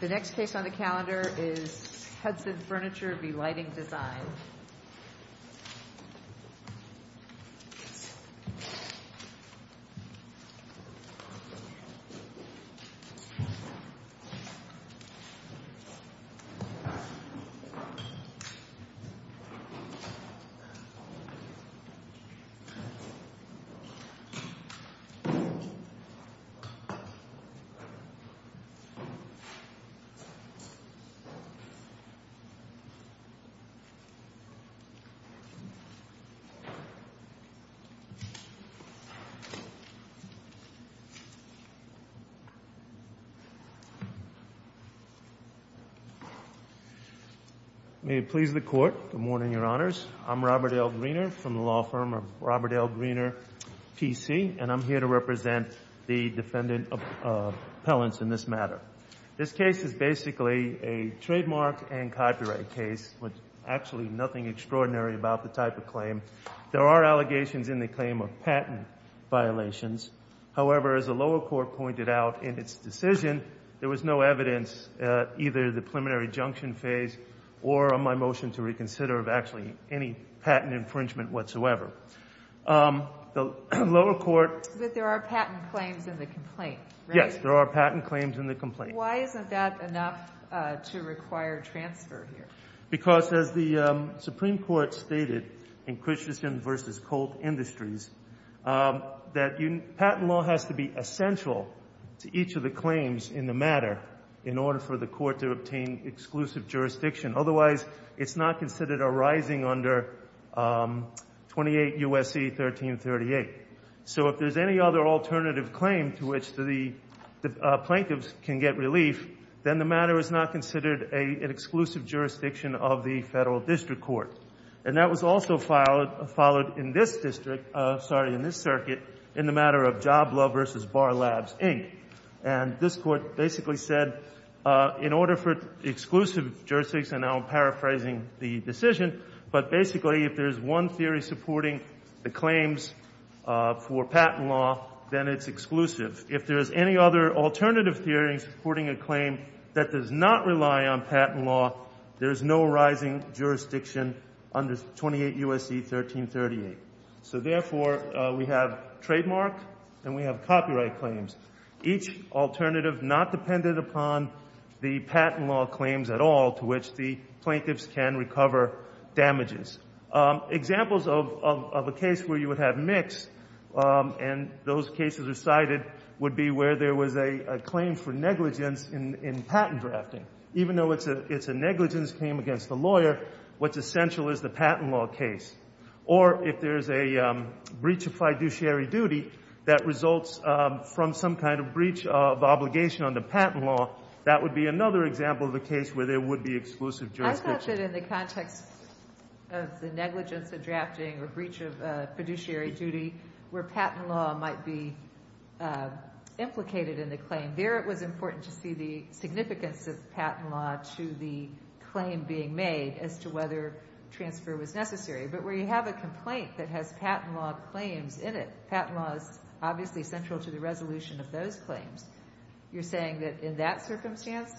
The next case on the calendar is Hudson Furniture v. Lighting Design. May it please the Court, good morning, Your Honors. I'm Robert L. Greener from the law firm of Robert L. Greener, P.C., and I'm here to represent the defendant appellants in this matter. This case is basically a trademark and copyright case with actually nothing extraordinary about the type of claim. There are allegations in the claim of patent violations. However, as the lower court pointed out in its decision, there was no evidence, either the preliminary junction phase or on my motion to reconsider, of actually any patent infringement whatsoever. The lower court- But there are patent claims in the complaint, right? Yes, there are patent claims in the complaint. Why isn't that enough to require transfer here? Because as the Supreme Court stated in Christensen v. Colt Industries, that patent law has to be essential to each of the claims in the matter in order for the court to obtain exclusive jurisdiction. Otherwise, it's not considered arising under 28 U.S.C. 1338. So if there's any other alternative claim to which the plaintiffs can get relief, then the matter is not considered an exclusive jurisdiction of the federal district court. And that was also followed in this district, sorry, in this circuit, in the matter of Job Law v. Bar Labs, Inc. And this court basically said, in order for exclusive jurisdiction, and I'm paraphrasing the decision, but basically if there's one theory supporting the for patent law, then it's exclusive. If there's any other alternative theory supporting a claim that does not rely on patent law, there's no arising jurisdiction under 28 U.S.C. 1338. So therefore, we have trademark and we have copyright claims, each alternative not dependent upon the patent law claims at all to which the plaintiffs can recover damages. Examples of a case where you would have mixed, and those cases are cited, would be where there was a claim for negligence in patent drafting. Even though it's a negligence claim against the lawyer, what's essential is the patent law case. Or if there's a breach of fiduciary duty that results from some kind of breach of obligation under patent law, that would be another example of a case where there would be exclusive jurisdiction. I thought that in the context of the negligence of drafting or breach of fiduciary duty, where patent law might be implicated in the claim, there it was important to see the significance of patent law to the claim being made as to whether transfer was necessary. But where you have a complaint that has patent law claims in it, patent law is obviously central to the resolution of those claims. You're saying that in that circumstance,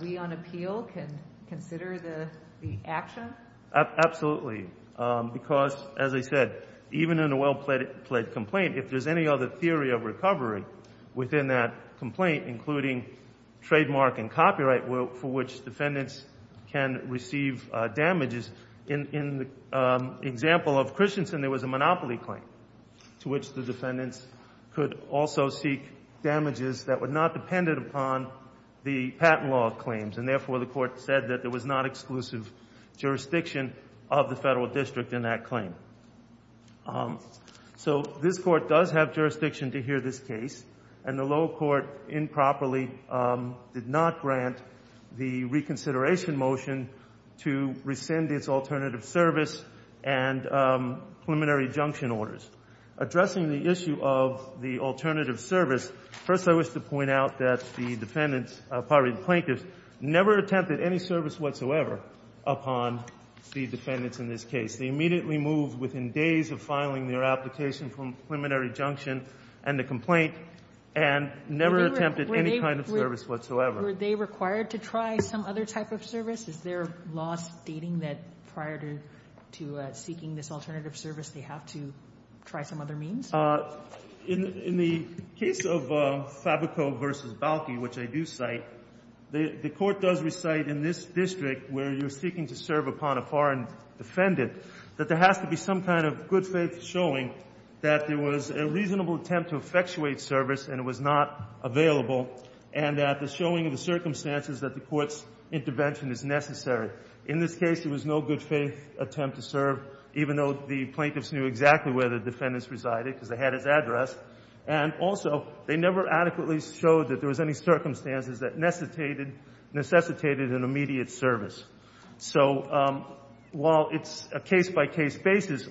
we on appeal can consider the action? Absolutely. Because, as I said, even in a well-pledged complaint, if there's any other theory of recovery within that complaint, including trademark and copyright for which defendants can receive damages, in the example of Christensen, there was a monopoly claim to which the defendants could also seek damages that were not dependent upon the patent law claims. And therefore, the Court said that there was not exclusive jurisdiction of the Federal District in that claim. So this Court does have jurisdiction to hear this case, and the lower court improperly did not grant the reconsideration motion to rescind its alternative service and preliminary junction orders. Addressing the issue of the alternative service, first, I wish to point out that the defendants, probably the plaintiffs, never attempted any service whatsoever upon the defendants in this case. They immediately moved within days of filing their application from preliminary junction and the complaint, and never attempted any kind of service whatsoever. Were they required to try some other type of service? Is there law stating that prior to seeking this alternative service, they have to try some other means? In the case of Fabico v. Balki, which I do cite, the Court does recite in this district where you're seeking to serve upon a foreign defendant that there has to be some kind of good faith showing that there was a reasonable attempt to effectuate service and it was not available, and that the showing of the circumstances that the Court's intervention is necessary. In this case, there was no good faith attempt to serve, even though the plaintiffs knew exactly where the defendants resided because they had his address. And also, they never adequately showed that there was any circumstances that necessitated an immediate service. So while it's a case-by-case basis,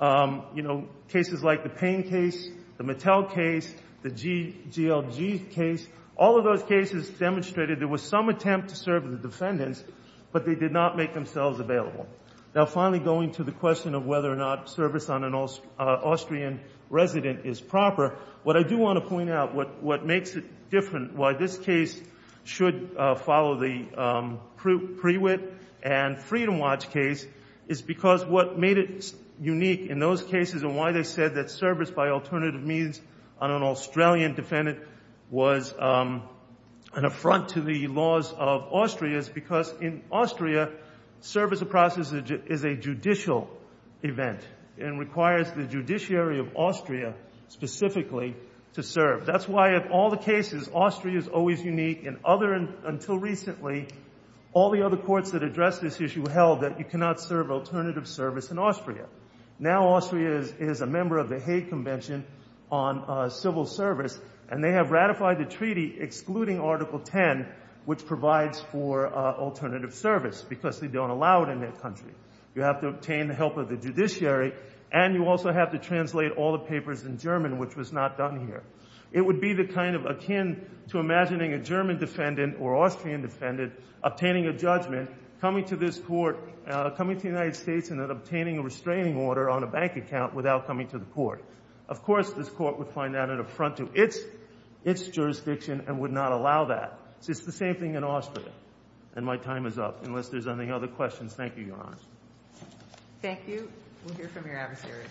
you know, cases like the Payne case, the Mattel case, the GLG case, all of those cases demonstrated there was some attempt to serve the defendants, but they did not make themselves available. Now, finally, going to the question of whether or not service on an Austrian resident is proper, what I do want to point out, what makes it different, why this case should follow the Prewitt and Freedom Watch case, is because what made it unique in those cases and why they said that service by alternative means on an Australian defendant was an affront to the laws of Austria, is because in Austria, service of process is a judicial event and requires the judiciary of Austria specifically to serve. That's why of all the cases, Austria is always unique, and until recently, all the other courts that addressed this issue held that you cannot serve alternative service in Austria. Now, Austria is a member of the Hague Convention on Civil Service, and they have ratified the treaty excluding Article 10, which provides for alternative service because they don't allow it in their country. You have to obtain the help of the judiciary, and you also have to translate all the papers in German, which was not done here. It would be the kind of akin to imagining a German defendant or Austrian defendant obtaining a judgment, coming to this court, coming to the United States and then obtaining a restraining order on a bank account without coming to the court. Of course, this court would find that an affront to its jurisdiction and would not allow that. It's the same thing in Austria. And my time is up, unless there's any other questions. Thank you, Your Honor. Thank you. We'll hear from your adversary.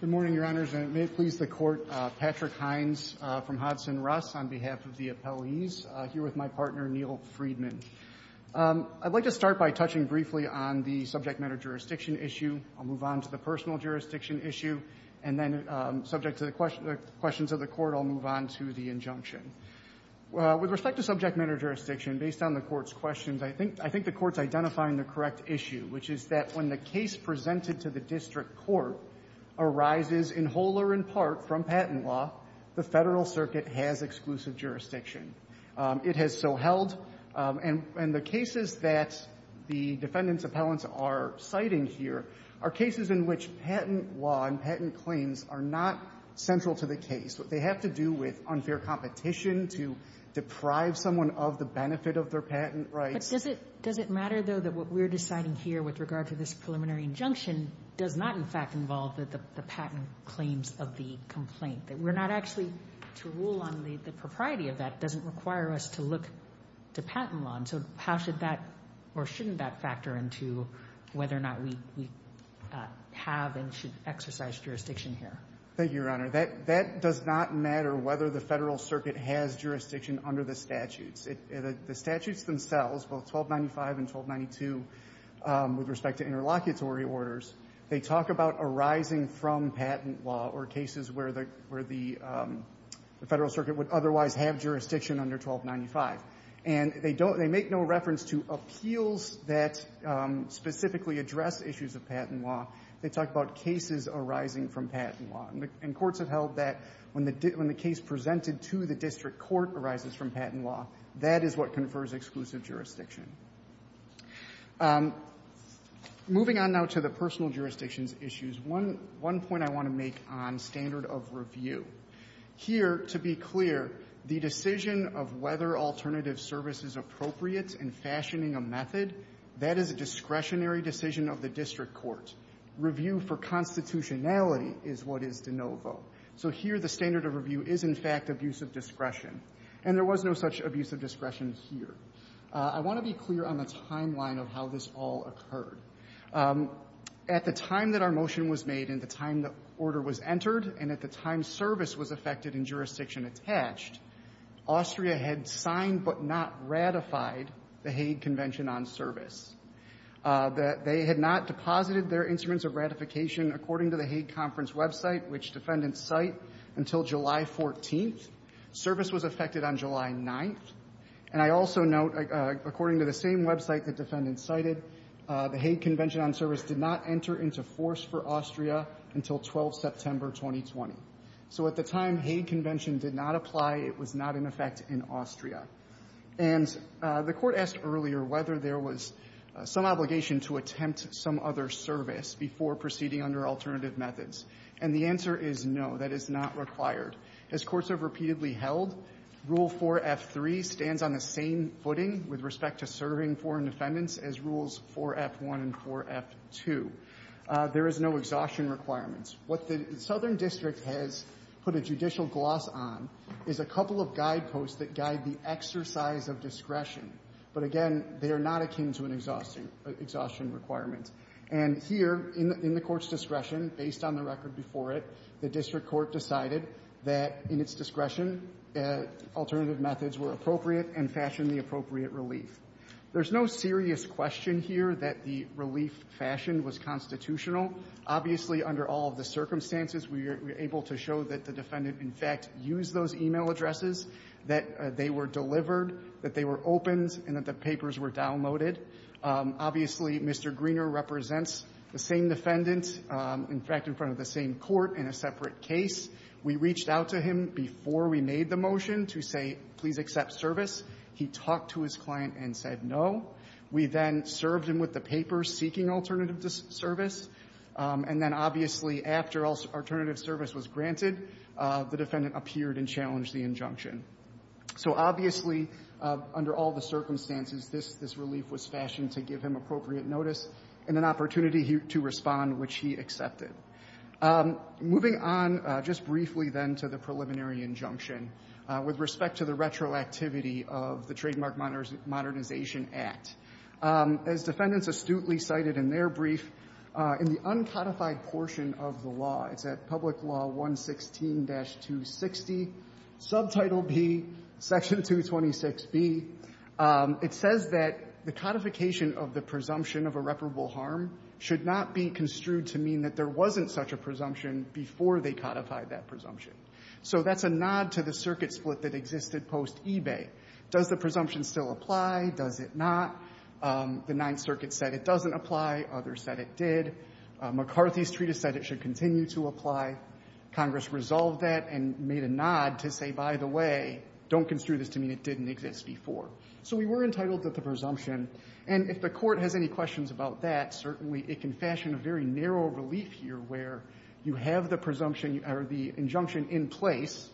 Good morning, Your Honors, and it may please the court, Patrick Hines from Hudson-Russ on behalf of the appellees, here with my partner, Neal Freedman. I'd like to start by touching briefly on the subject matter jurisdiction issue. I'll move on to the personal jurisdiction issue, and then subject to the questions of the Court, I'll move on to the injunction. With respect to subject matter jurisdiction, based on the Court's questions, I think the Court's identifying the correct issue, which is that when the case presented to the district court arises in whole or in part from patent law, the Federal Circuit has exclusive jurisdiction. It has so held. And the cases that the defendants' appellants are citing here are cases in which patent law and patent claims are not central to the case. They have to do with unfair competition to deprive someone of the benefit of their patent rights. But does it matter, though, that what we're deciding here with regard to this preliminary injunction does not, in fact, involve the patent claims of the complaint, that we're not actually to rule on the propriety of that doesn't require us to look to patent law? And so how should that, or shouldn't that, factor into whether or not we have and should exercise jurisdiction here? Thank you, Your Honor. That does not matter whether the Federal Circuit has jurisdiction under the statutes. The statutes themselves, both 1295 and 1292, with respect to interlocutory orders, they talk about arising from patent law or cases where the Federal Circuit would otherwise have jurisdiction under 1295. And they make no reference to appeals that specifically address issues of patent law. They talk about cases arising from patent law. And courts have held that when the case presented to the district court arises from patent law, that is what confers exclusive jurisdiction. Moving on now to the personal jurisdictions issues, one point I want to make on standard of review. Here, to be clear, the decision of whether alternative service is appropriate in fashioning a method, that is a discretionary decision of the district court. Review for constitutionality is what is de novo. So here the standard of review is, in fact, abuse of discretion. And there was no such abuse of discretion here. I want to be clear on the timeline of how this all occurred. At the time that our motion was made and the time the order was entered and at the time service was affected and jurisdiction attached, Austria had signed but not ratified the Hague Convention on Service. They had not deposited their instruments of ratification, according to the Hague Conference website, which defendants cite, until July 14th. Service was effected on July 9th. And I also note, according to the same website that defendants cited, the Hague Convention on Service did not enter into force for Austria until 12 September 2020. So at the time Hague Convention did not apply, it was not in effect in Austria. And the Court asked earlier whether there was some obligation to attempt some other service before proceeding under alternative methods. And the answer is no, that is not required. As courts have repeatedly held, Rule 4F3 stands on the same footing with respect to serving foreign defendants as Rules 4F1 and 4F2. There is no exhaustion requirements. What the Southern District has put a judicial gloss on is a couple of guideposts that guide the exercise of discretion. But again, they are not akin to an exhaustion requirement. And here, in the Court's discretion, based on the record before it, the district court decided that, in its discretion, alternative methods were appropriate and fashioned the appropriate relief. There's no serious question here that the relief fashion was constitutional. Obviously, under all of the circumstances, we are able to show that the defendant, in fact, used those e-mail addresses, that they were delivered, that they were opened, and that the papers were downloaded. Obviously, Mr. Greener represents the same defendant, in fact, in front of the same defendants in the case. We reached out to him before we made the motion to say, please accept service. He talked to his client and said no. We then served him with the papers seeking alternative service. And then, obviously, after alternative service was granted, the defendant appeared and challenged the injunction. So, obviously, under all the circumstances, this relief was fashioned to give him appropriate notice and an opportunity to respond, which he accepted. Moving on just briefly, then, to the preliminary injunction with respect to the retroactivity of the Trademark Modernization Act. As defendants astutely cited in their brief, in the uncodified portion of the law, it's at Public Law 116-260, Subtitle B, Section 226B, it says that the codification of the presumption of irreparable harm should not be construed to mean that there wasn't such a presumption before they codified that presumption. So that's a nod to the circuit split that existed post-eBay. Does the presumption still apply? Does it not? The Ninth Circuit said it doesn't apply. Others said it did. McCarthy's treatise said it should continue to apply. Congress resolved that and made a nod to say, by the way, don't construe this to mean it didn't exist before. So we were entitled to the presumption. And if the Court has any questions about that, certainly it can fashion a very narrow relief here where you have the injunction in place.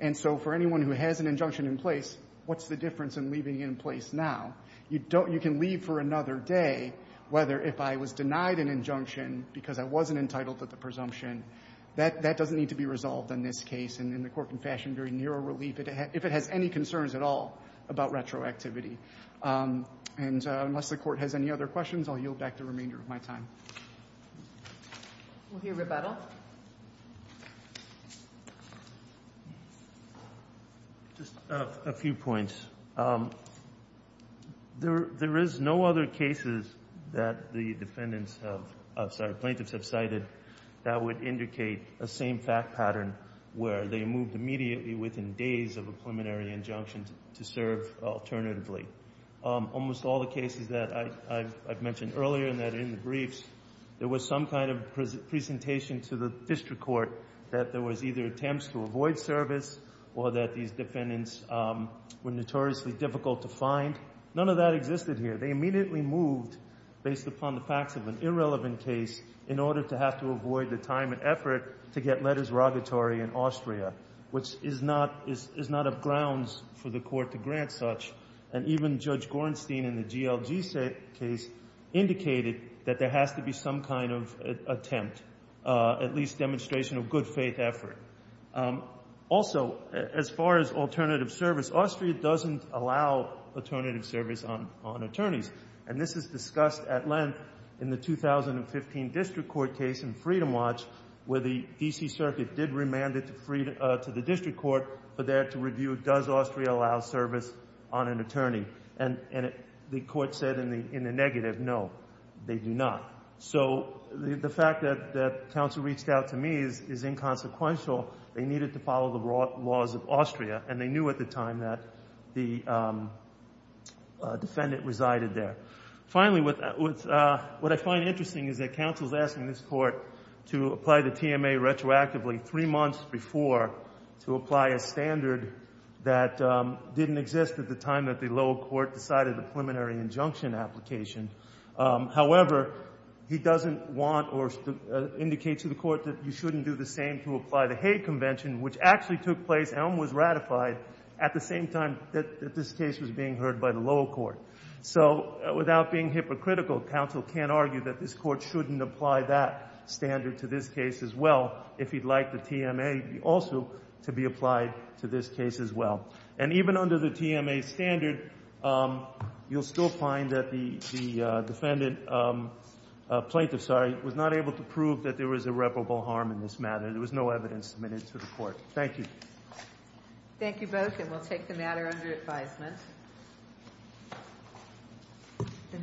And so for anyone who has an injunction in place, what's the difference in leaving it in place now? You can leave for another day, whether if I was denied an injunction because I wasn't entitled to the presumption. That doesn't need to be resolved in this case and in the Court can fashion very narrow relief if it has any concerns at all about retroactivity. And unless the Court has any other questions, I'll yield back the remainder of my time. GOTTLIEB We'll hear rebuttal. MR. GARGANO Just a few points. There is no other cases that the defendants have – I'm sorry, plaintiffs have cited that would indicate a same-fact pattern where they moved immediately within days of a preliminary injunction to serve alternatively. Almost all the cases that I've mentioned earlier and that are in the briefs, there was some kind of presentation to the District Court that there was either attempts to avoid service or that these defendants were notoriously difficult to find. None of that existed here. They immediately moved based upon the facts of an irrelevant case in order to have to is not of grounds for the Court to grant such. And even Judge Gorenstein in the GLG case indicated that there has to be some kind of attempt, at least demonstration of good-faith effort. Also, as far as alternative service, Austria doesn't allow alternative service on attorneys. And this is discussed at length in the 2015 District Court case in Freedom Watch, where the D.C. Circuit did remand it to the District Court for there to review does Austria allow service on an attorney. And the Court said in the negative, no, they do not. So the fact that counsel reached out to me is inconsequential. They needed to follow the laws of Austria, and they knew at the time that the defendant resided there. Finally, what I find interesting is that counsel is asking this Court to apply the TMA retroactively three months before to apply a standard that didn't exist at the time that the lower court decided the preliminary injunction application. However, he doesn't want or indicate to the Court that you shouldn't do the same to apply the Hague Convention, which actually took place and was ratified at the same time that this case was being heard by the lower court. So without being hypocritical, counsel can't argue that this Court shouldn't apply that standard to this case as well if he'd like the TMA also to be applied to this case as well. And even under the TMA standard, you'll still find that the defendant, plaintiff, sorry, was not able to prove that there was irreparable harm in this matter. There was no evidence submitted to the Court. Thank you. Thank you both, and we'll take the matter under advisement.